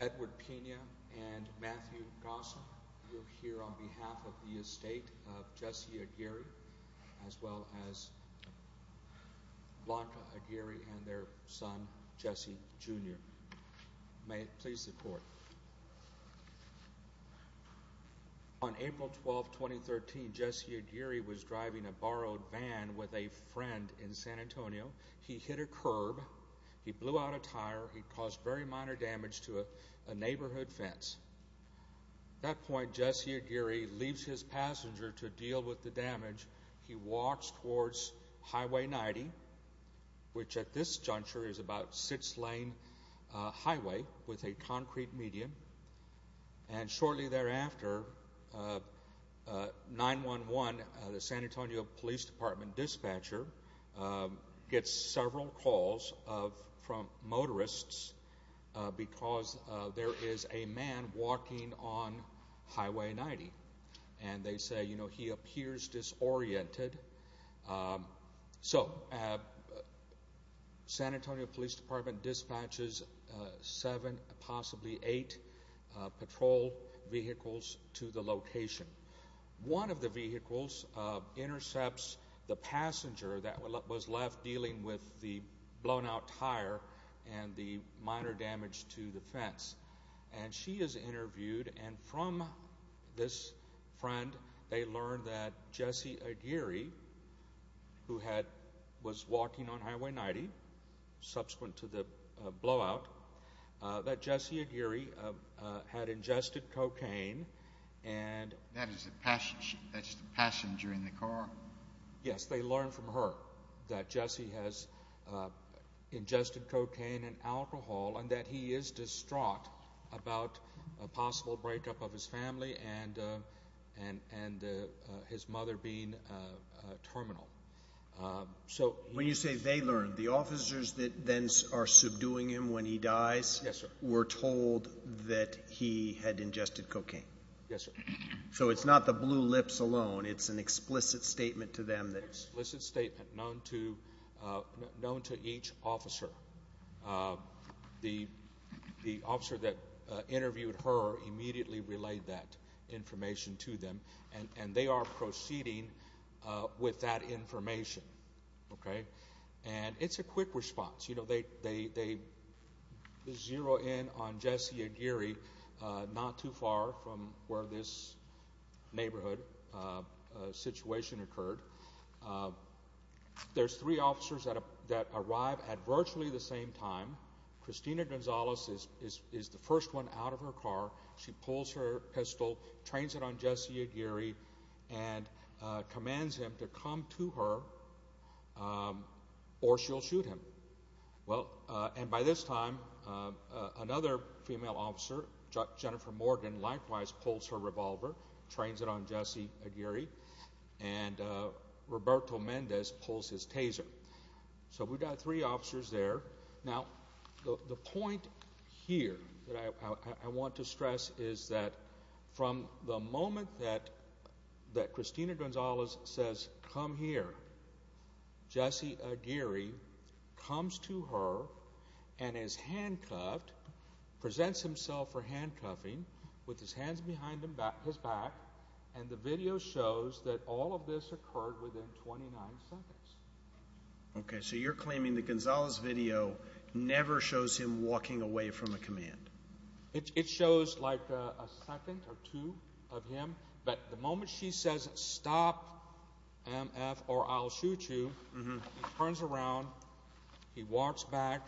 Edward Pena and Matthew Gossel, you are here on behalf of the estate of Jesse Aguirre v. Jesse Aguirre as well as Blanca Aguirre and their son, Jesse Jr. May it please the court. On April 12, 2013, Jesse Aguirre was driving a borrowed van with a friend in San Antonio, he hit a curb, he blew out a tire, he caused very minor damage to a neighborhood fence. At that point, Jesse Aguirre leaves his passenger to deal with the damage, he walks towards Highway 90, which at this juncture is about a six-lane highway with a concrete medium, and shortly thereafter, 911, the San Antonio Police Department dispatcher, gets several calls from motorists because there is a man walking on Highway 90, and they say, you know, he appears disoriented. So, San Antonio Police Department dispatches seven, possibly eight, patrol vehicles to the location. One of the vehicles intercepts the passenger that was left dealing with the blown-out tire and the minor damage to the fence, and she is interviewed, and from this friend, they learn that Jesse Aguirre, who was walking on Highway 90, subsequent to the blowout, that Jesse Aguirre had ingested cocaine and alcohol. That is the passenger in the car? Yes, they learn from her that Jesse has ingested cocaine and alcohol, and that he is distraught about a possible breakup of his family and his mother being terminal. When you say they learn, the officers that then are subduing him when he dies were told that he had ingested cocaine? Yes, sir. So, it's not the blue lips alone, it's an explicit statement to them? It's an explicit statement known to each officer. The officer that interviewed her immediately relayed that information to them, and they are proceeding with that information, okay? And it's a quick response, you know, they zero in on Jesse Aguirre, not too far from where this neighborhood situation occurred. There's three officers that arrive at virtually the same time. Christina Gonzalez is the first one out of her car. She pulls her pistol, trains it on Jesse Aguirre, and commands him to come to her, or she'll shoot him. Well, and by this time, another female officer, Jennifer Morgan, likewise pulls her revolver, trains it on Jesse Aguirre, and Roberto Mendez pulls his taser. So, we've got three officers there. Now, the point here that I want to stress is that from the moment that Christina Gonzalez says, come here, Jesse Aguirre comes to her and is handcuffed, presents himself for handcuffing, with his hands behind his back, and the video shows that all of this occurred within 29 seconds. Okay, so you're claiming that Gonzalez's video never shows him walking away from a command. It shows like a second or two of him, but the moment she says, stop, MF, or I'll shoot you, he turns around, he walks back,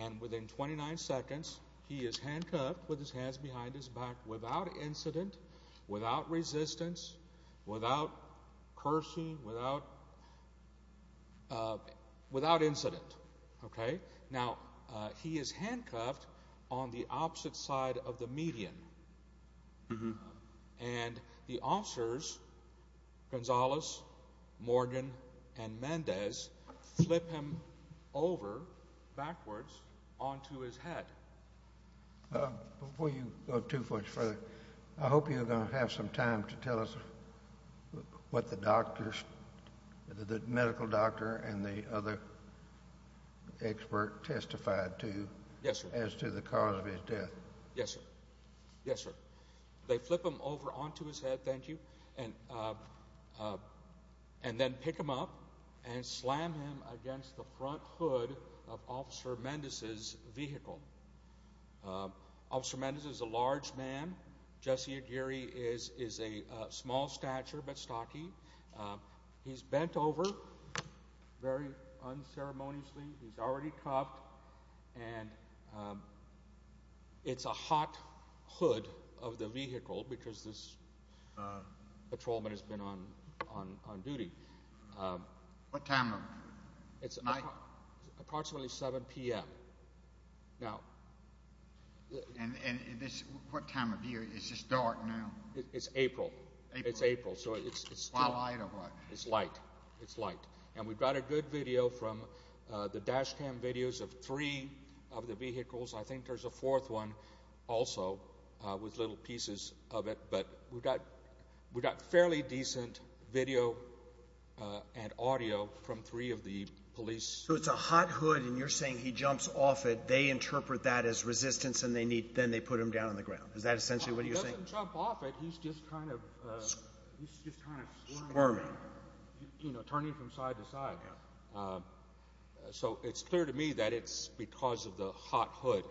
and within 29 seconds, he is handcuffed with his hands behind his back without incident, without resistance, without cursing, without incident. Okay, now, he is handcuffed on the opposite side of the median, and the officers, Gonzalez, Morgan, and Mendez, flip him over, backwards, onto his head. Before you go too much further, I hope you're going to have some time to tell us what the doctors, the medical doctor and the other expert testified to as to the cause of his death. Yes, sir. Yes, sir. They flip him over onto his head, thank you, and then pick him up and slam him against the front hood of Officer Mendez's vehicle. Officer Mendez is a large man, Jesse Aguirre is a small stature, but stocky, he's bent over very unceremoniously, he's already cuffed, and it's a hot hood of the vehicle because this patrolman has been on duty. What time of night? It's approximately 7 p.m. And what time of year, is this dark now? It's April, it's April, so it's still light, it's light, and we've got a good video from the dash cam videos of three of the vehicles, I think there's a fourth one also, with little pieces of it, but we've got fairly decent video and audio from three of the patrolmen. So it's a hot hood and you're saying he jumps off it, they interpret that as resistance and then they put him down on the ground, is that essentially what you're saying? He doesn't jump off it, he's just kind of squirming, you know, turning from side to side. So it's clear to me that it's because of the hot hood.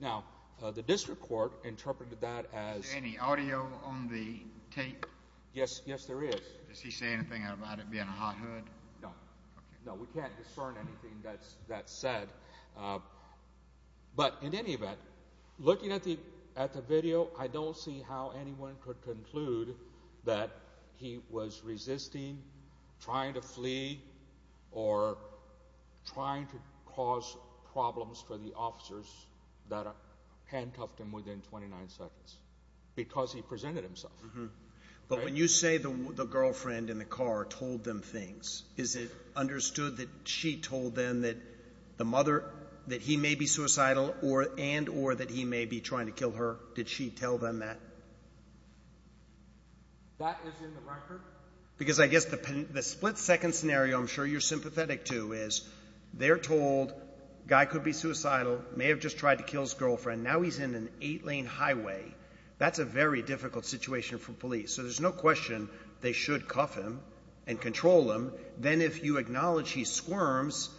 Now, the district court interpreted that as... Is there any audio on the tape? Yes, yes there is. Does he say anything about it being a hot hood? No, we can't discern anything that's said, but in any event, looking at the video, I don't see how anyone could conclude that he was resisting, trying to flee, or trying to cause problems for the officers that handcuffed him within 29 seconds, because he presented himself. But when you say the girlfriend in the car told them things, is it understood that she told them that the mother, that he may be suicidal and or that he may be trying to kill her? Did she tell them that? That is in the record? Because I guess the split second scenario I'm sure you're sympathetic to is, they're told, guy could be suicidal, may have just tried to kill his girlfriend, now he's in an eight lane highway. That's a very difficult situation for police. So there's no question they should cuff him and control him. Then if you acknowledge he squirms,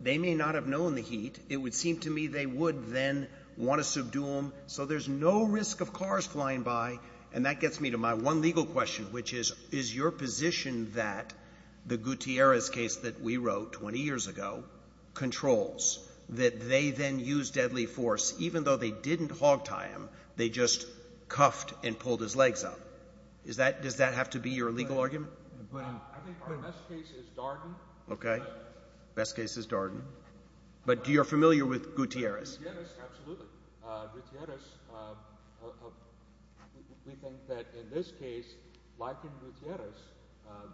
they may not have known the heat. It would seem to me they would then want to subdue him. So there's no risk of cars flying by. And that gets me to my one legal question, which is, is your position that the Gutierrez case that we wrote 20 years ago controls? That they then used deadly force, even though they didn't hogtie him, they just cuffed and pulled his legs up. Does that have to be your legal argument? I think our best case is Darden. Okay, best case is Darden. But you're familiar with Gutierrez? Gutierrez, absolutely. Gutierrez, we think that in this case, like in Gutierrez,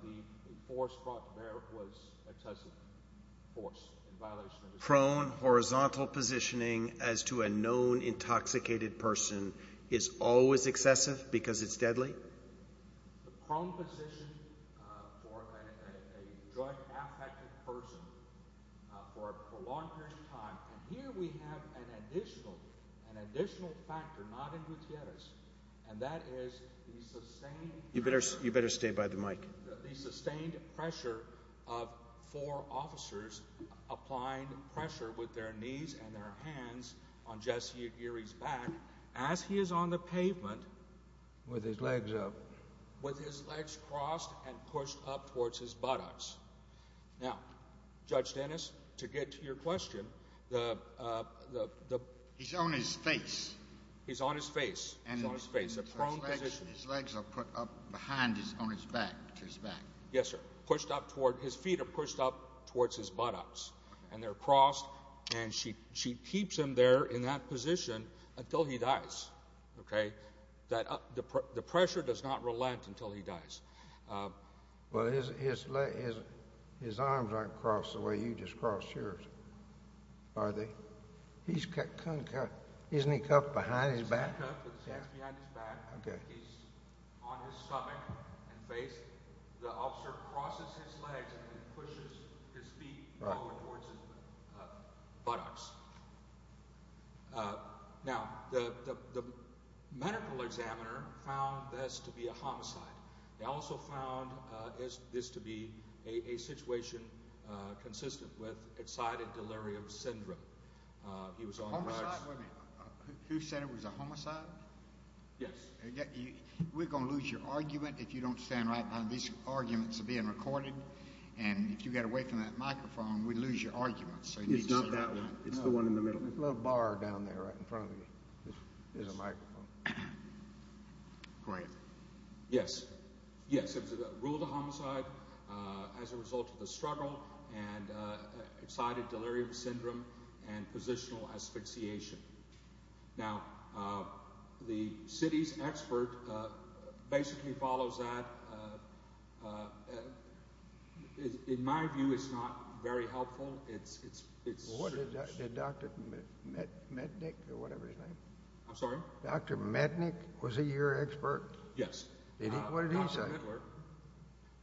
the force brought there was excessive force in violation of the statute. Prone horizontal positioning as to a known intoxicated person is always excessive because it's deadly? The prone position for a drug-affected person for a prolonged period of time. And here we have an additional factor, not in Gutierrez, and that is the sustained pressure. You better stay by the mic. The sustained pressure of four officers applying pressure with their knees and their hands on Jesse Gutierrez's back as he is on the pavement. With his legs up. With his legs crossed and pushed up towards his buttocks. Now, Judge Dennis, to get to your question. He's on his face. He's on his face. He's on his face, a prone position. His legs are put up behind his back, to his back. Yes, sir. Pushed up toward his feet or pushed up towards his buttocks. And they're crossed, and she keeps him there in that position until he dies, okay? The pressure does not relent until he dies. Well, his arms aren't crossed the way you just crossed yours, are they? He's concave. Isn't he concave behind his back? He's concave with his hands behind his back. He's on his stomach and face. The officer crosses his legs and then pushes his feet over towards his buttocks. Now, the medical examiner found this to be a homicide. They also found this to be a situation consistent with excited delirium syndrome. A homicide? Wait a minute. Who said it was a homicide? Yes. We're going to lose your argument if you don't stand right by these arguments being recorded. And if you get away from that microphone, we'd lose your argument. It's not that one. It's the one in the middle. There's a little bar down there right in front of you. There's a microphone. Great. Yes. Yes. It's a rule of homicide as a result of the struggle and excited delirium syndrome and positional asphyxiation. Now, the city's expert basically follows that. In my view, it's not very helpful. It's— What did Dr. Mednick or whatever his name? I'm sorry? Dr. Mednick? Was he your expert? Yes. What did he say?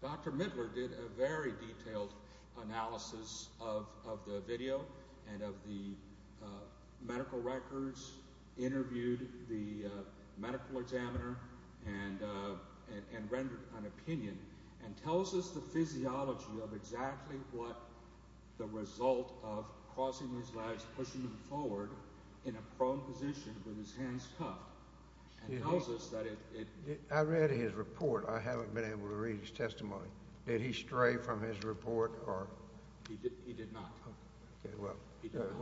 Dr. Midler did a very detailed analysis of the video and of the medical records, interviewed the medical examiner, and rendered an opinion, and tells us the physiology of exactly what the result of crossing his legs, pushing him forward in a prone position with his hands cuffed. I read his report. I haven't been able to read his testimony. Did he stray from his report? He did not. Okay. Well,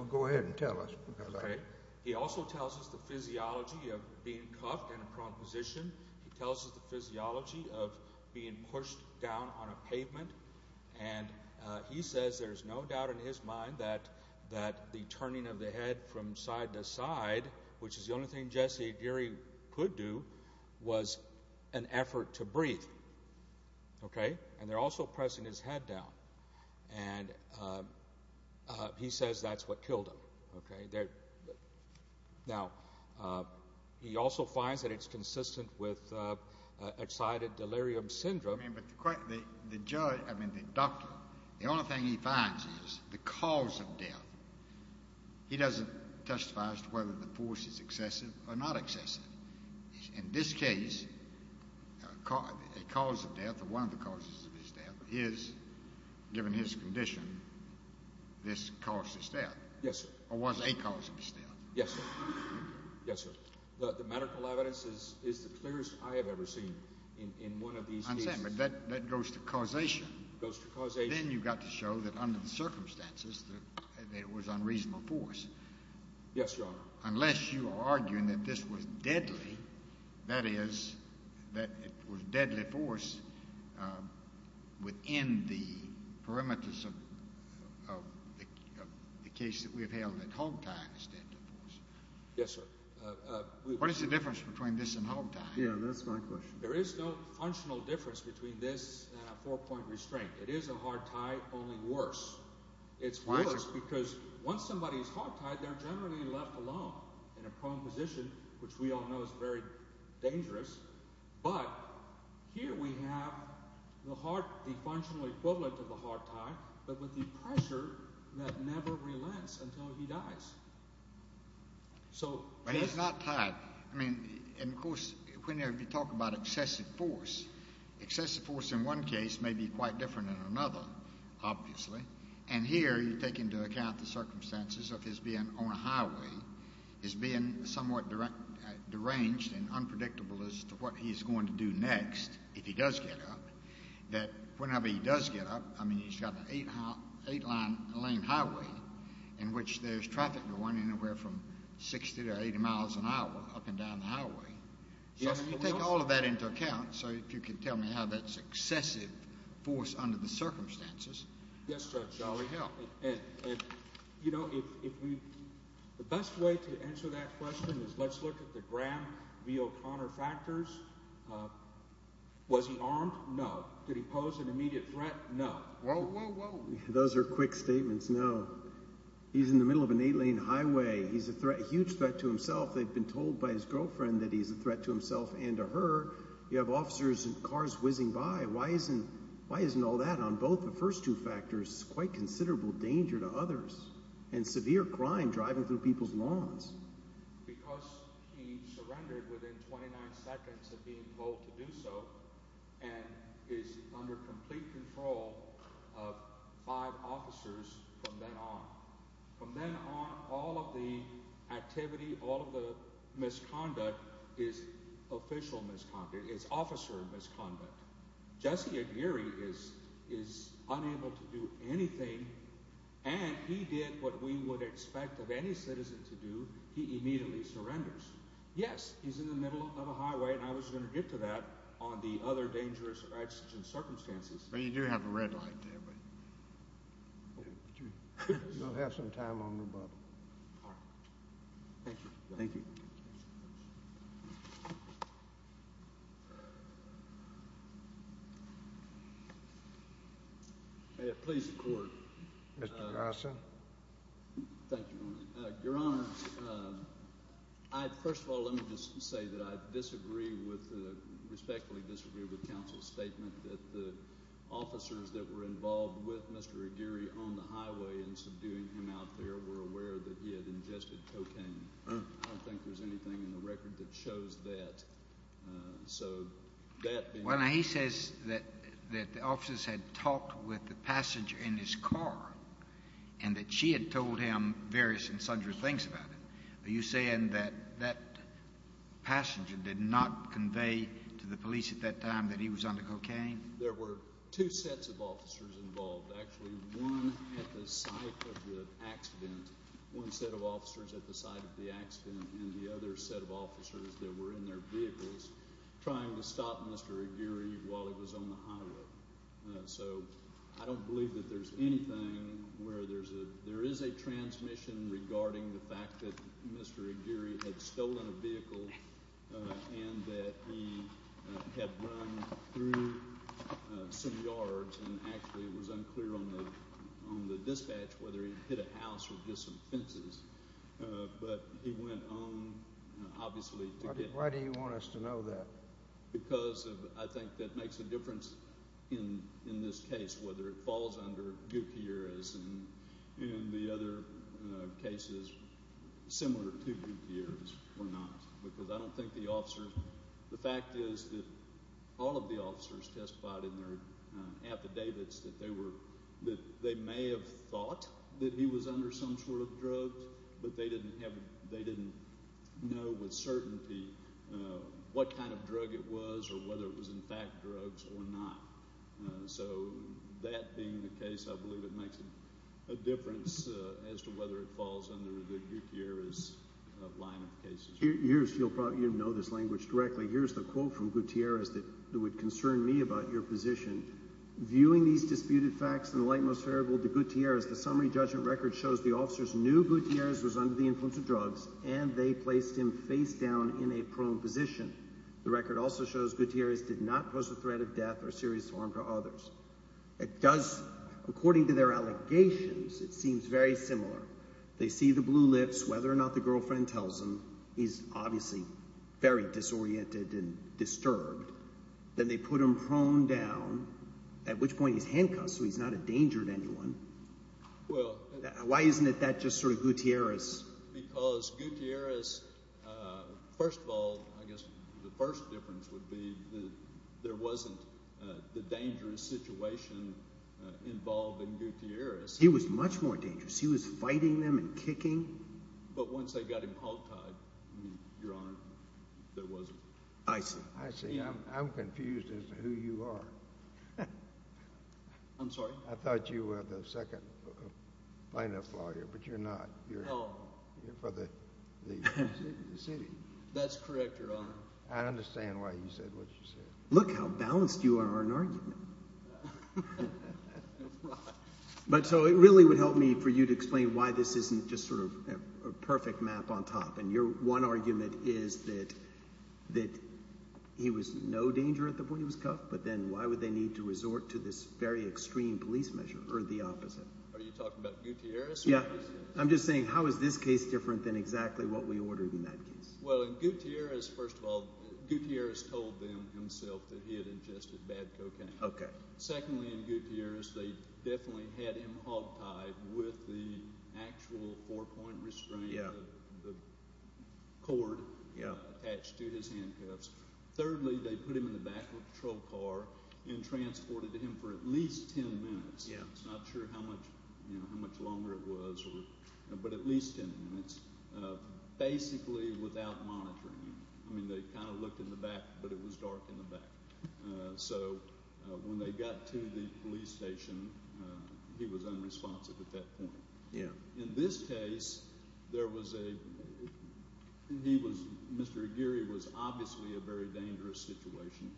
go ahead and tell us about it. He also tells us the physiology of being cuffed in a prone position. He tells us the physiology of being pushed down on a pavement. And he says there's no doubt in his mind that the turning of the head from side to side, which is the only thing Jesse Geary could do, was an effort to breathe. Okay? And they're also pressing his head down. And he says that's what killed him. Okay? Now, he also finds that it's consistent with excited delirium syndrome. But the judge, I mean the doctor, the only thing he finds is the cause of death. He doesn't testify as to whether the force is excessive or not excessive. In this case, a cause of death or one of the causes of his death is, given his condition, this caused his death. Yes, sir. Or was a cause of his death. Yes, sir. Yes, sir. The medical evidence is the clearest I have ever seen in one of these cases. I understand. But that goes to causation. It goes to causation. Then you've got to show that under the circumstances that it was unreasonable force. Yes, Your Honor. Unless you are arguing that this was deadly, that is, that it was deadly force within the perimeters of the case that we have held that hogtie is deadly force. Yes, sir. What is the difference between this and hogtie? Yeah, that's my question. There is no functional difference between this and a four-point restraint. It is a hogtie, only worse. It's worse because once somebody is hogtied, they're generally left alone in a prone position, which we all know is very dangerous. But here we have the functional equivalent of a hogtie but with the pressure that never relents until he dies. But he's not tied. I mean, and, of course, whenever you talk about excessive force, excessive force in one case may be quite different than another, obviously. And here you take into account the circumstances of his being on a highway, his being somewhat deranged and unpredictable as to what he's going to do next if he does get up, that whenever he does get up, I mean, he's got an eight-line lane highway in which there's traffic going anywhere from 60 to 80 miles an hour up and down the highway. So you take all of that into account. So if you could tell me how that's excessive force under the circumstances. Yes, Judge. And, you know, the best way to answer that question is let's look at the Graham v. O'Connor factors. Was he armed? No. Did he pose an immediate threat? No. Whoa, whoa, whoa. Those are quick statements. No. He's in the middle of an eight-lane highway. He's a threat, a huge threat to himself. They've been told by his girlfriend that he's a threat to himself and to her. You have officers and cars whizzing by. Why isn't all that on both the first two factors quite considerable danger to others and severe crime driving through people's lawns? Because he surrendered within 29 seconds of being told to do so and is under complete control of five officers from then on. From then on, all of the activity, all of the misconduct is official misconduct. It's officer misconduct. Jesse Aguirre is unable to do anything, and he did what we would expect of any citizen to do. He immediately surrenders. Yes, he's in the middle of a highway, and I was going to get to that on the other dangerous accidents and circumstances. Well, you do have a red light there. You'll have some time on rebuttal. All right. Thank you. Thank you. Mr. Gossin. Thank you, Your Honor. Your Honor, first of all, let me just say that I disagree with—respectfully disagree with counsel's statement that the officers that were involved with Mr. Aguirre on the highway and subduing him out there were aware that he had ingested cocaine. I don't think there's anything in the record that shows that. Well, he says that the officers had talked with the passenger in his car and that she had told him various and sundry things about it. Are you saying that that passenger did not convey to the police at that time that he was under cocaine? There were two sets of officers involved. Actually, one at the site of the accident, one set of officers at the site of the accident, and the other set of officers that were in their vehicles trying to stop Mr. Aguirre while he was on the highway. So I don't believe that there's anything where there is a transmission regarding the fact that Mr. Aguirre had stolen a vehicle and that he had run through some yards and actually it was unclear on the dispatch whether he had hit a house or just some fences. But he went on, obviously, to get— Why do you want us to know that? Because I think that makes a difference in this case, whether it falls under Gutierrez and the other cases similar to Gutierrez or not because I don't think the officers— on their affidavits that they may have thought that he was under some sort of drugs, but they didn't know with certainty what kind of drug it was or whether it was in fact drugs or not. So that being the case, I believe it makes a difference as to whether it falls under the Gutierrez line of cases. You know this language directly. Here's the quote from Gutierrez that would concern me about your position. Viewing these disputed facts in the light most favorable to Gutierrez, the summary judgment record shows the officers knew Gutierrez was under the influence of drugs and they placed him face down in a prone position. The record also shows Gutierrez did not pose a threat of death or serious harm to others. It does. According to their allegations, it seems very similar. They see the blue lips. Whether or not the girlfriend tells him, he's obviously very disoriented and disturbed. Then they put him prone down, at which point he's handcuffed, so he's not a danger to anyone. Well— Why isn't that just sort of Gutierrez? Because Gutierrez—first of all, I guess the first difference would be that there wasn't the dangerous situation involved in Gutierrez. He was much more dangerous. He was fighting them and kicking. But once they got him hogtied, Your Honor, there wasn't. I see. I see. I'm confused as to who you are. I'm sorry? I thought you were the second plaintiff lawyer, but you're not. Oh. You're for the city. That's correct, Your Honor. I understand why you said what you said. Look how balanced you are in argument. Right. But so it really would help me for you to explain why this isn't just sort of a perfect map on top. And your one argument is that he was no danger at the point he was cuffed, but then why would they need to resort to this very extreme police measure or the opposite? Are you talking about Gutierrez? I'm just saying how is this case different than exactly what we ordered in that case? Well, in Gutierrez, first of all, Gutierrez told them himself that he had ingested bad cocaine. Secondly, in Gutierrez, they definitely had him hogtied with the actual four-point restraint, the cord attached to his handcuffs. Thirdly, they put him in the back of a patrol car and transported him for at least ten minutes. I'm not sure how much longer it was, but at least ten minutes, basically without monitoring him. I mean they kind of looked in the back, but it was dark in the back. So when they got to the police station, he was unresponsive at that point. In this case, there was a – he was – Mr. Aguirre was obviously a very dangerous situation.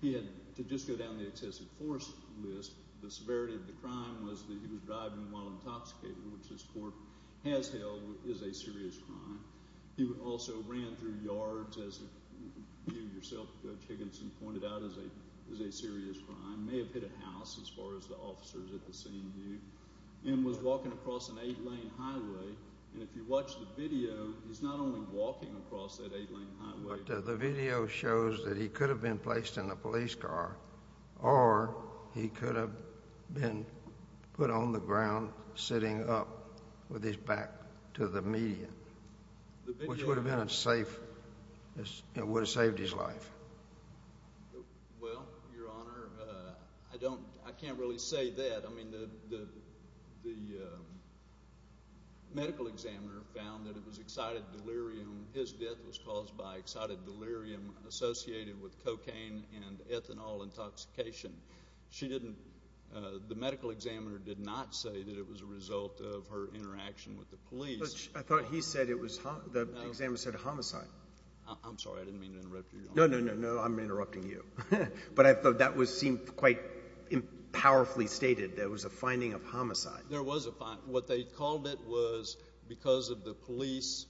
He had – to just go down the excessive force list, the severity of the crime was that he was driving while intoxicated, which this court has held is a serious crime. He also ran through yards, as you yourself, Judge Higginson, pointed out, is a serious crime. May have hit a house, as far as the officers at the scene knew, and was walking across an eight-lane highway. And if you watch the video, he's not only walking across that eight-lane highway. But the video shows that he could have been placed in a police car or he could have been put on the ground sitting up with his back to the median, which would have been a safe – it would have saved his life. Well, Your Honor, I don't – I can't really say that. I mean the medical examiner found that it was excited delirium. His death was caused by excited delirium associated with cocaine and ethanol intoxication. She didn't – the medical examiner did not say that it was a result of her interaction with the police. But I thought he said it was – the examiner said homicide. I'm sorry. I didn't mean to interrupt you, Your Honor. No, no, no, no. I'm interrupting you. But I thought that was seen quite powerfully stated. There was a finding of homicide. There was a – what they called it was because of the police,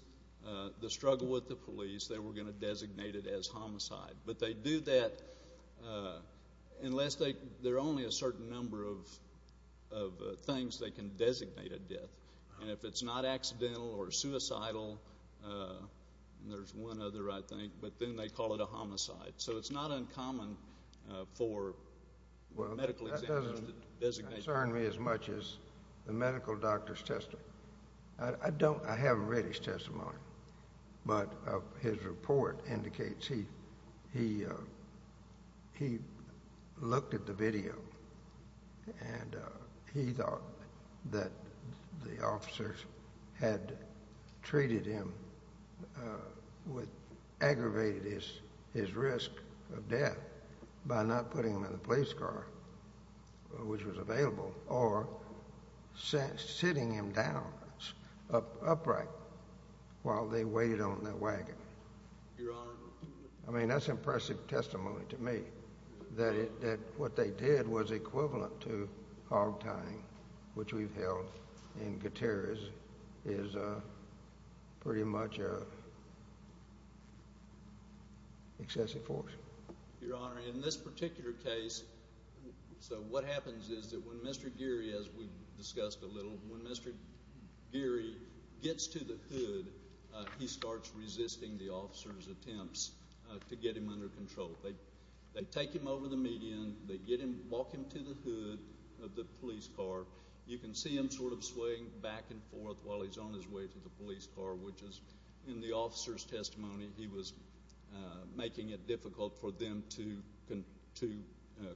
the struggle with the police, they were going to designate it as homicide. But they do that unless they – there are only a certain number of things they can designate a death. And if it's not accidental or suicidal – and there's one other, I think – but then they call it a homicide. So it's not uncommon for medical examiners to designate – Well, that doesn't concern me as much as the medical doctor's testimony. I don't – I haven't read his testimony. But his report indicates he looked at the video, and he thought that the officers had treated him with – Your Honor. I mean that's impressive testimony to me that what they did was equivalent to hog tying, which we've held in Gutierrez is pretty much an excessive force. Your Honor, in this particular case – so what happens is that when Mr. Geary, as we discussed a little, when Mr. Geary gets to the hood, he starts resisting the officer's attempts to get him under control. They take him over the median. They get him – walk him to the hood of the police car. You can see him sort of swaying back and forth while he's on his way to the police car, which is, in the officer's testimony, he was making it difficult for them to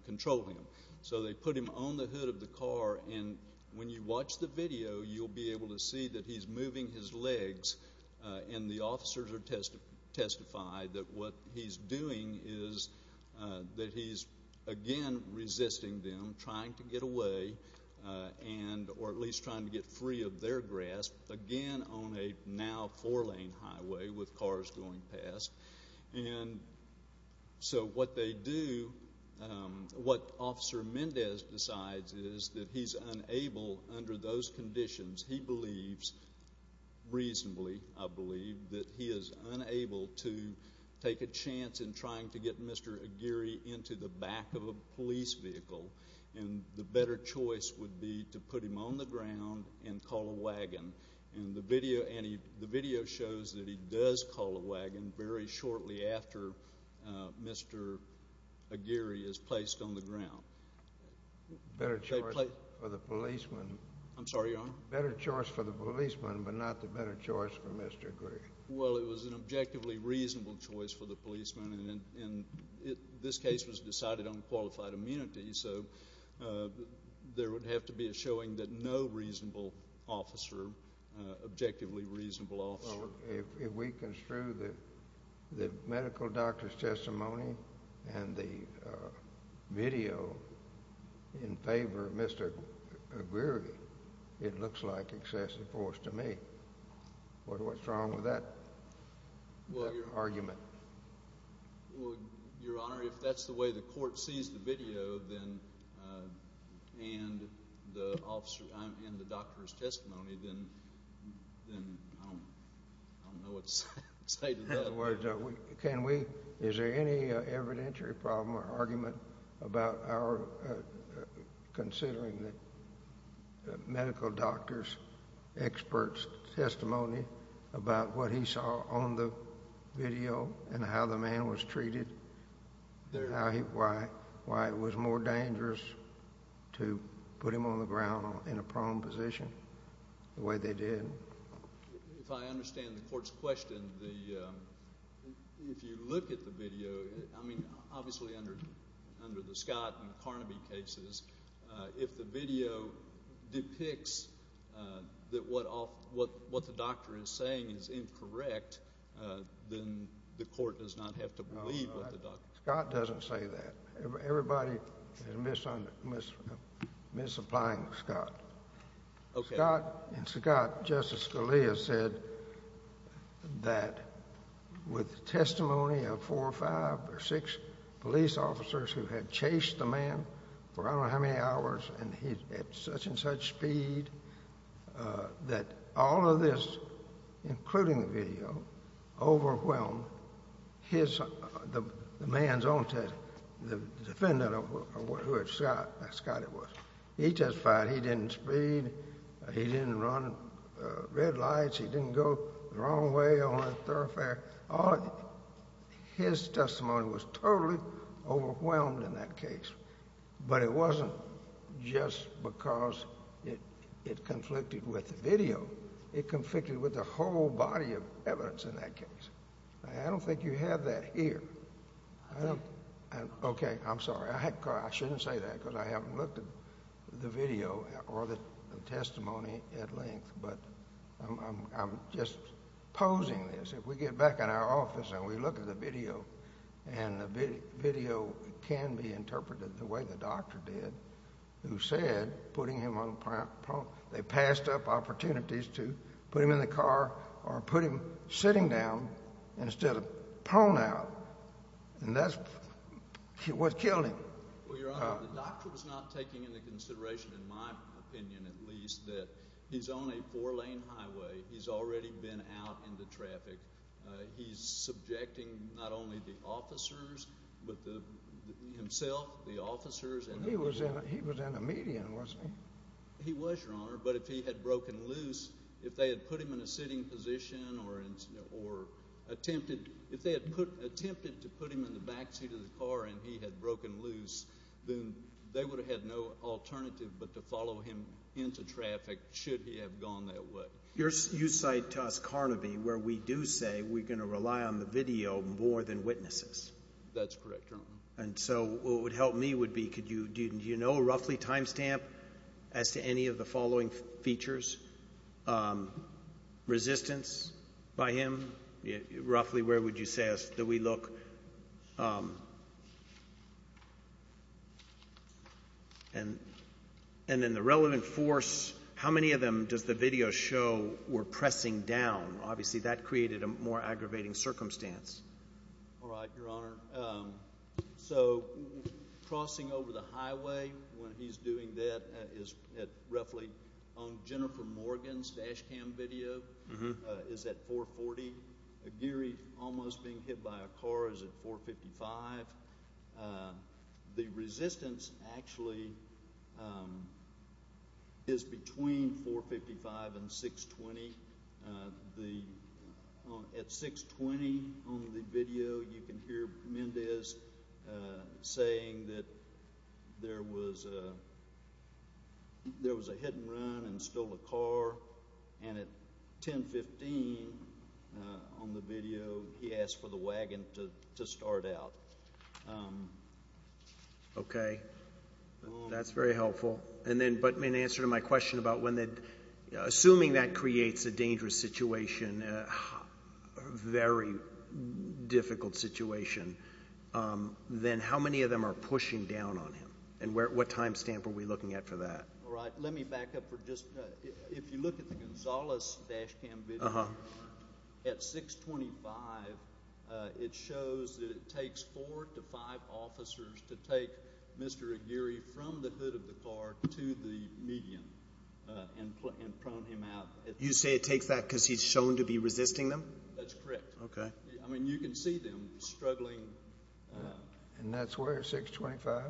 control him. So they put him on the hood of the car, and when you watch the video, you'll be able to see that he's moving his legs, and the officers have testified that what he's doing is that he's again resisting them, trying to get away, or at least trying to get free of their grasp, again on a now four-lane highway with cars going past. And so what they do – what Officer Mendez decides is that he's unable under those conditions. He believes reasonably, I believe, that he is unable to take a chance in trying to get Mr. Geary into the back of a police vehicle, and the better choice would be to put him on the ground and call a wagon. And the video shows that he does call a wagon very shortly after Mr. Geary is placed on the ground. Better choice for the policeman. I'm sorry, Your Honor? Better choice for the policeman, but not the better choice for Mr. Geary. Well, it was an objectively reasonable choice for the policeman, and this case was decided on qualified immunity, so there would have to be a showing that no reasonable officer, objectively reasonable officer— If we construe the medical doctor's testimony and the video in favor of Mr. Geary, it looks like excessive force to me. What's wrong with that argument? Well, Your Honor, if that's the way the court sees the video and the doctor's testimony, then I don't know what to say to that. Is there any evidentiary problem or argument about our considering the medical doctor's expert's testimony about what he saw on the video and how the man was treated, why it was more dangerous to put him on the ground in a prone position the way they did? If I understand the court's question, if you look at the video, I mean, obviously under the Scott and Carnaby cases, if the video depicts that what the doctor is saying is incorrect, then the court does not have to believe what the doctor— Scott doesn't say that. Everybody is misapplying Scott. Okay. Scott, in Scott, Justice Scalia said that with testimony of four or five or six police officers who had chased the man for I don't know how many hours and he's at such and such speed that all of this, including the video, overwhelmed the man's own testimony, the defendant of who Scott was. He testified he didn't speed, he didn't run red lights, he didn't go the wrong way on the thoroughfare. His testimony was totally overwhelmed in that case, but it wasn't just because it conflicted with the video. It conflicted with the whole body of evidence in that case. I don't think you have that here. Okay. I'm sorry. I shouldn't say that because I haven't looked at the video or the testimony at length, but I'm just posing this. If we get back in our office and we look at the video, and the video can be interpreted the way the doctor did, they passed up opportunities to put him in the car or put him sitting down instead of prone out, and that's what killed him. Well, Your Honor, the doctor was not taking into consideration, in my opinion at least, that he's on a four-lane highway. He's already been out in the traffic. He's subjecting not only the officers but himself, the officers. He was in a median, wasn't he? He was, Your Honor, but if he had broken loose, if they had put him in a sitting position or attempted to put him in the backseat of the car and he had broken loose, then they would have had no alternative but to follow him into traffic should he have gone that way. You cite to us Carnaby, where we do say we're going to rely on the video more than witnesses. That's correct, Your Honor. And so what would help me would be, do you know roughly time stamp as to any of the following features? Resistance by him? Roughly where would you say that we look? And then the relevant force, how many of them does the video show were pressing down? Obviously that created a more aggravating circumstance. All right, Your Honor. So crossing over the highway when he's doing that is at roughly on Jennifer Morgan's dash cam video is at 440. Aguirre almost being hit by a car is at 455. The resistance actually is between 455 and 620. At 620 on the video, you can hear Mendez saying that there was a hit and run and stole a car. And at 1015 on the video, he asked for the wagon to start out. Okay. That's very helpful. But in answer to my question about assuming that creates a dangerous situation, a very difficult situation, then how many of them are pushing down on him and what time stamp are we looking at for that? All right. Let me back up for just a minute. If you look at the Gonzales dash cam video, at 625, it shows that it takes four to five officers to take Mr. Aguirre from the hood of the car to the median and prone him out. You say it takes that because he's shown to be resisting them? That's correct. Okay. I mean, you can see them struggling. And that's where, 625?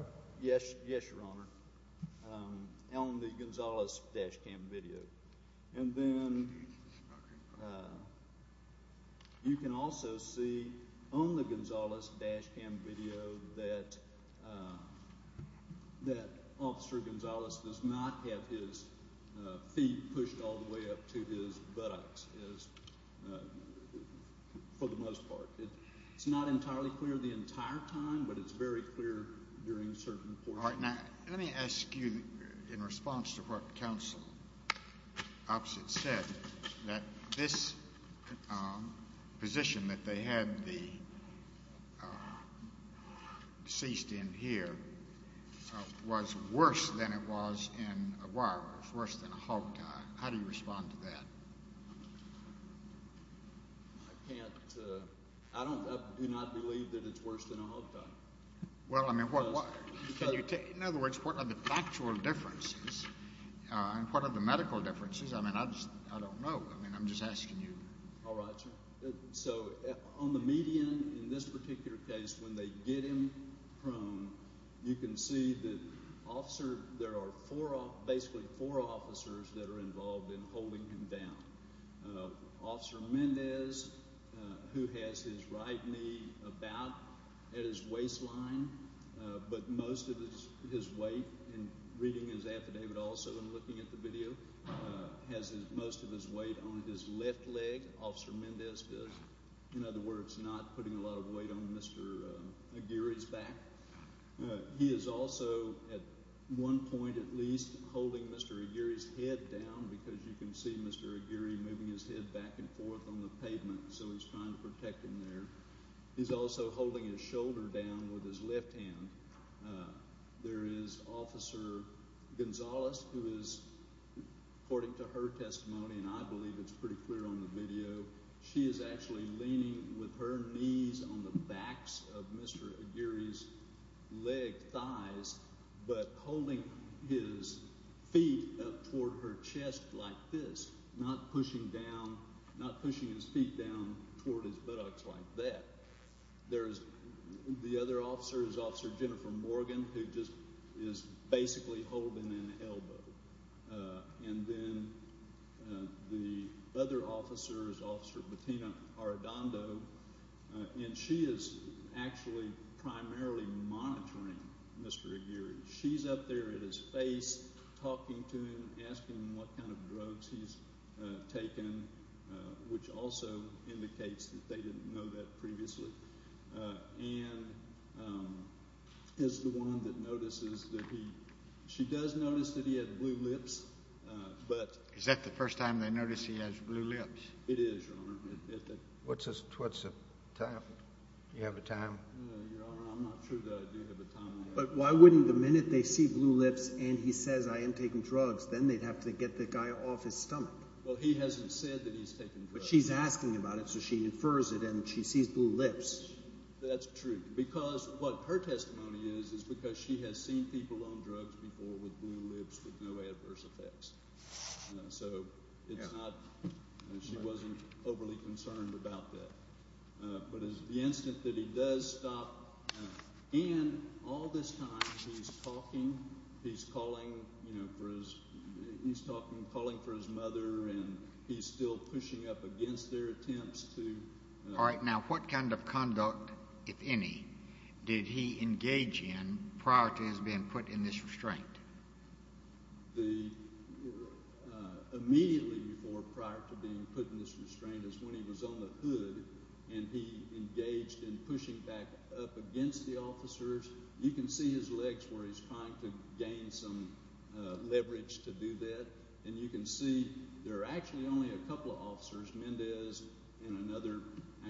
Yes, Your Honor. On the Gonzales dash cam video. And then you can also see on the Gonzales dash cam video that Officer Gonzales does not have his feet pushed all the way up to his buttocks, for the most part. It's not entirely clear the entire time, but it's very clear during certain portions. All right. Now, let me ask you, in response to what Counsel Opposite said, that this position that they had the deceased in here was worse than it was in Aguirre, worse than a hog tie. How do you respond to that? I can't. I do not believe that it's worse than a hog tie. Well, I mean, in other words, what are the factual differences? And what are the medical differences? I mean, I don't know. I mean, I'm just asking you. All right, sir. So on the median, in this particular case, when they get him prone, you can see that there are basically four officers that are involved in holding him down. Officer Mendez, who has his right knee about at his waistline, but most of his weight, and reading his affidavit also and looking at the video, has most of his weight on his left leg. Officer Mendez does, in other words, not putting a lot of weight on Mr. Aguirre's back. He is also, at one point at least, holding Mr. Aguirre's head down because you can see Mr. Aguirre moving his head back and forth on the pavement, so he's trying to protect him there. He's also holding his shoulder down with his left hand. There is Officer Gonzales, who is, according to her testimony, and I believe it's pretty clear on the video, she is actually leaning with her knees on the backs of Mr. Aguirre's legs, thighs, but holding his feet up toward her chest like this, not pushing his feet down toward his buttocks like that. There's the other officers, Officer Jennifer Morgan, who just is basically holding an elbow. And then the other officers, Officer Bettina Arredondo, and she is actually primarily monitoring Mr. Aguirre. She's up there at his face talking to him, asking him what kind of drugs he's taken, which also indicates that they didn't know that previously. And is the one that notices that he—she does notice that he had blue lips, but— Is that the first time they notice he has blue lips? It is, Your Honor. What's the time? Do you have a time? Your Honor, I'm not sure that I do have a time on that. But why wouldn't the minute they see blue lips and he says, I am taking drugs, then they'd have to get the guy off his stomach? Well, he hasn't said that he's taking drugs. But she's asking about it, so she infers it, and she sees blue lips. That's true because what her testimony is, is because she has seen people on drugs before with blue lips with no adverse effects. So it's not—she wasn't overly concerned about that. But the instant that he does stop, and all this time he's talking, he's calling, you know, for his—he's talking, calling for his mother, and he's still pushing up against their attempts to— All right. Now, what kind of conduct, if any, did he engage in prior to his being put in this restraint? The—immediately before, prior to being put in this restraint, is when he was on the hood and he engaged in pushing back up against the officers. You can see his legs where he's trying to gain some leverage to do that, and you can see there are actually only a couple of officers, Mendez and another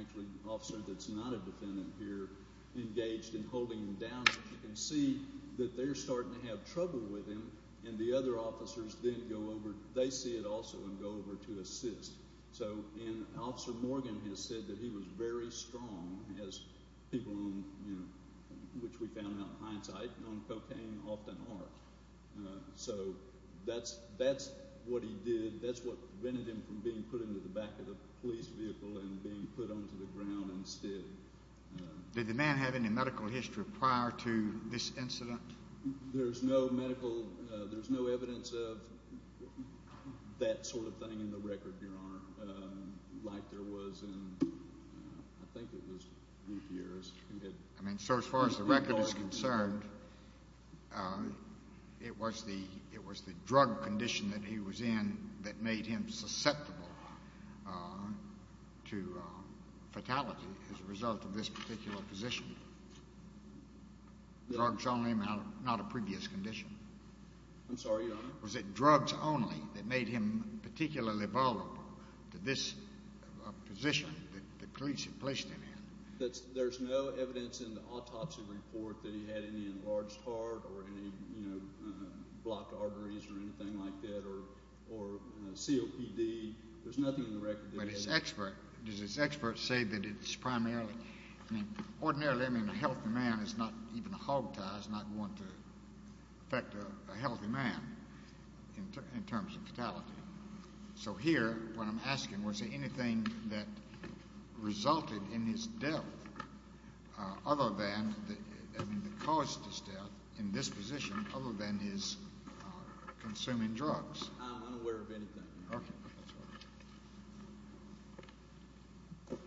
actually officer that's not a defendant here, engaged in holding him down. You can see that they're starting to have trouble with him, and the other officers then go over—they see it also and go over to assist. So—and Officer Morgan has said that he was very strong, as people on, you know, which we found out in hindsight, on cocaine often are. So that's what he did. That's what prevented him from being put into the back of the police vehicle and being put onto the ground instead. Did the man have any medical history prior to this incident? There's no medical—there's no evidence of that sort of thing in the record, Your Honor, like there was in—I think it was eight years. I mean, sir, as far as the record is concerned, it was the drug condition that he was in that made him susceptible to fatality as a result of this particular position. Drugs only, not a previous condition. I'm sorry, Your Honor? Was it drugs only that made him particularly vulnerable to this position that the police had placed him in? There's no evidence in the autopsy report that he had any enlarged heart or any, you know, blocked arteries or anything like that or COPD. There's nothing in the record that— But his expert—does his expert say that it's primarily— I mean, ordinarily, I mean, a healthy man is not—even a hogtie is not going to affect a healthy man in terms of fatality. So here, what I'm asking, was there anything that resulted in his death other than— I mean, that caused his death in this position other than his consuming drugs? I'm unaware of anything. Okay. That's all.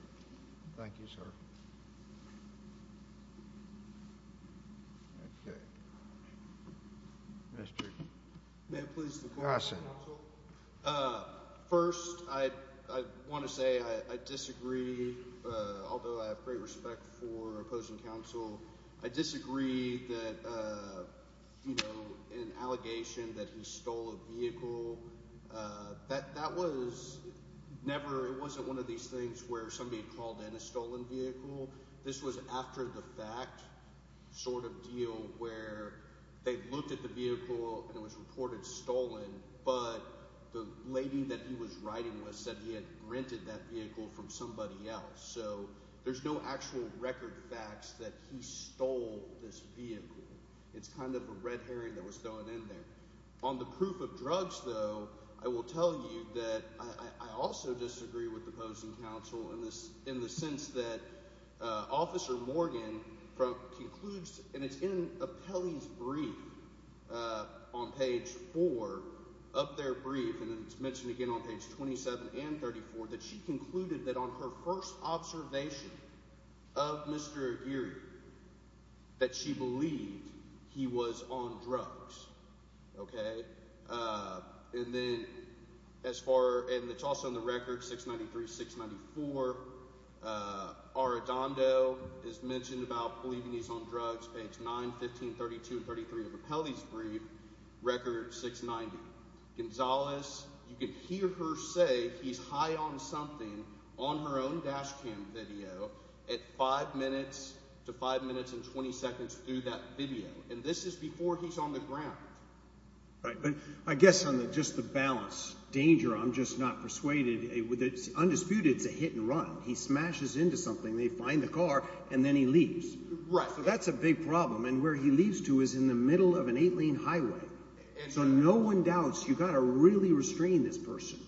Thank you, sir. Okay. Mr.— May I please— Yes, sir. First, I want to say I disagree. Although I have great respect for opposing counsel, I disagree that, you know, an allegation that he stole a vehicle, that was never—it wasn't one of these things where somebody called in a stolen vehicle. This was after-the-fact sort of deal where they looked at the vehicle and it was reported stolen, but the lady that he was riding with said he had rented that vehicle from somebody else. So there's no actual record facts that he stole this vehicle. It's kind of a red herring that was thrown in there. On the proof of drugs, though, I will tell you that I also disagree with opposing counsel in the sense that Officer Morgan concludes— and it's in Apelli's brief on page four of their brief, and it's mentioned again on page 27 and 34, that she concluded that on her first observation of Mr. Aguirre that she believed he was on drugs. And then as far—and it's also in the record, 693, 694. Arradondo is mentioned about believing he's on drugs, page 9, 15, 32, and 33 of Apelli's brief, record 690. Gonzalez, you can hear her say he's high on something on her own dash cam video at five minutes to five minutes and 20 seconds through that video. And this is before he's on the ground. Right, but I guess on just the balance, danger, I'm just not persuaded. Undisputed, it's a hit and run. He smashes into something, they find the car, and then he leaves. Right. So that's a big problem, and where he leaves to is in the middle of an eight-lane highway. So no one doubts you've got to really restrain this person.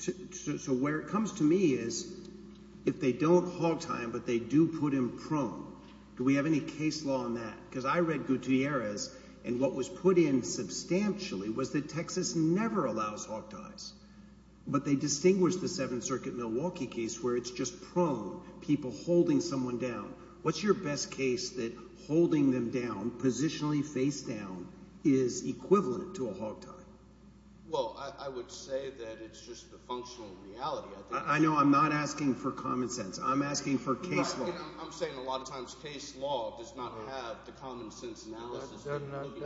So where it comes to me is if they don't hog tie him but they do put him prone, do we have any case law on that? Because I read Gutierrez, and what was put in substantially was that Texas never allows hog ties. But they distinguished the Seventh Circuit Milwaukee case where it's just prone, people holding someone down. What's your best case that holding them down, positionally face down, is equivalent to a hog tie? Well, I would say that it's just the functional reality. I know I'm not asking for common sense. I'm asking for case law. I'm saying a lot of times case law does not have the common sense analysis. I'm not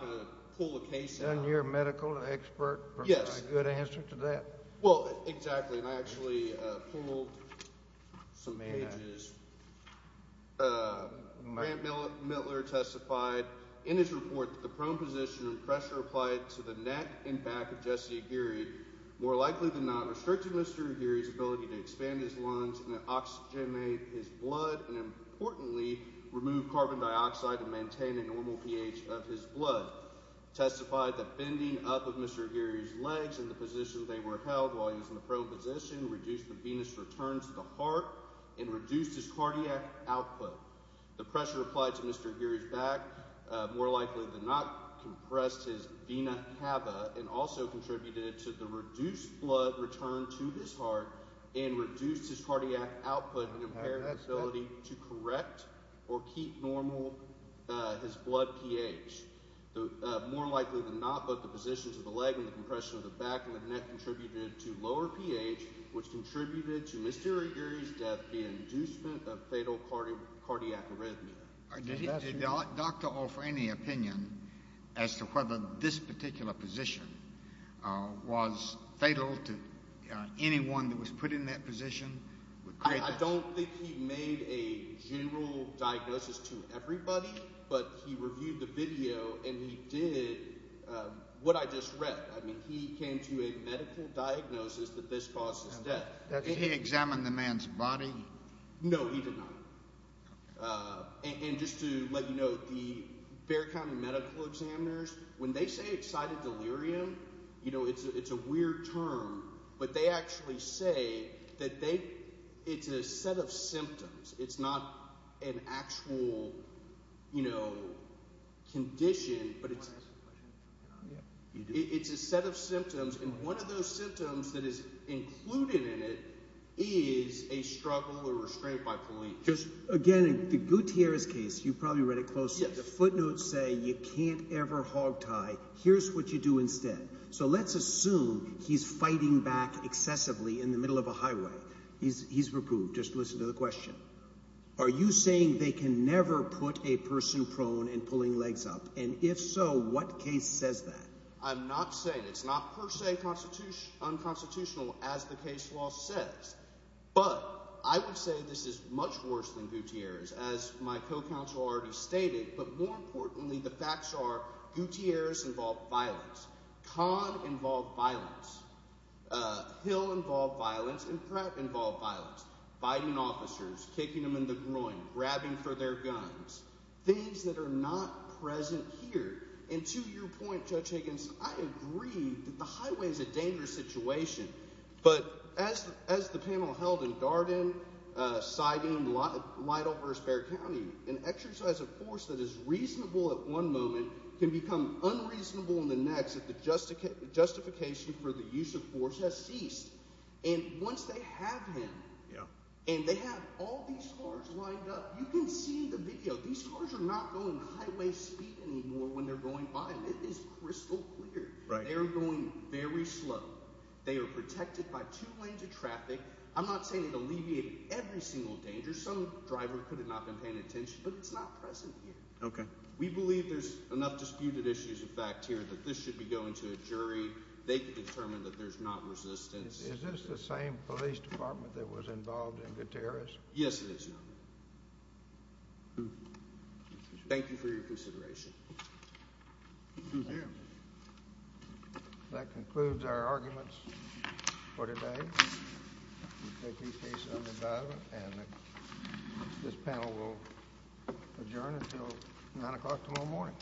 going to pull a case out. Doesn't your medical expert provide a good answer to that? Well, exactly, and I actually pulled some pages. Grant Mittler testified in his report that the prone position and pressure applied to the neck and back of Jesse Aguirre more likely than not restricted Mr. Aguirre's ability to expand his lungs and oxygenate his blood and importantly remove carbon dioxide and maintain a normal pH of his blood. Testified that bending up of Mr. Aguirre's legs in the position they were held while he was in the prone position reduced the venous return to the heart and reduced his cardiac output. The pressure applied to Mr. Aguirre's back more likely than not compressed his vena cava and also contributed to the reduced blood return to his heart and reduced his cardiac output and impaired his ability to correct or keep normal his blood pH. More likely than not, the position of the leg and compression of the back of the neck contributed to lower pH which contributed to Mr. Aguirre's death and inducement of fatal cardiac arrhythmia. Did the doctor offer any opinion as to whether this particular position was fatal to anyone that was put in that position? I don't think he made a general diagnosis to everybody, but he reviewed the video and he did what I just read. I mean, he came to a medical diagnosis that this caused his death. Did he examine the man's body? No, he did not. And just to let you know, the Bexar County medical examiners, when they say excited delirium, it's a weird term, but they actually say that it's a set of symptoms. It's not an actual condition, but it's a set of symptoms. And one of those symptoms that is included in it is a struggle or restraint by police. Again, in Gutierrez's case, you probably read it closely, the footnotes say you can't ever hogtie. Here's what you do instead. So let's assume he's fighting back excessively in the middle of a highway. He's reproved. Just listen to the question. Are you saying they can never put a person prone and pulling legs up? And if so, what case says that? I'm not saying it's not per se unconstitutional, as the case law says. But I would say this is much worse than Gutierrez's, as my co-counsel already stated. But more importantly, the facts are Gutierrez involved violence. Khan involved violence. Hill involved violence. And Pratt involved violence. Fighting officers, kicking them in the groin, grabbing for their guns. Things that are not present here. And to your point, Judge Higgins, I agree that the highway is a dangerous situation. But as the panel held in Garden, Sidon, Lytle versus Bexar County, an exercise of force that is reasonable at one moment can become unreasonable in the next if the justification for the use of force has ceased. And once they have him, and they have all these cars lined up, you can see in the video, these cars are not going highway speed anymore when they're going by him. It is crystal clear. They are going very slow. They are protected by two lanes of traffic. I'm not saying it alleviated every single danger. Some driver could have not been paying attention. But it's not present here. We believe there's enough disputed issues of fact here that this should be going to a jury. They could determine that there's not resistance. Is this the same police department that was involved in Gutierrez? Yes, it is, Your Honor. Thank you for your consideration. Thank you. That concludes our arguments for today. We take these cases under dividement, and this panel will adjourn until 9 o'clock tomorrow morning.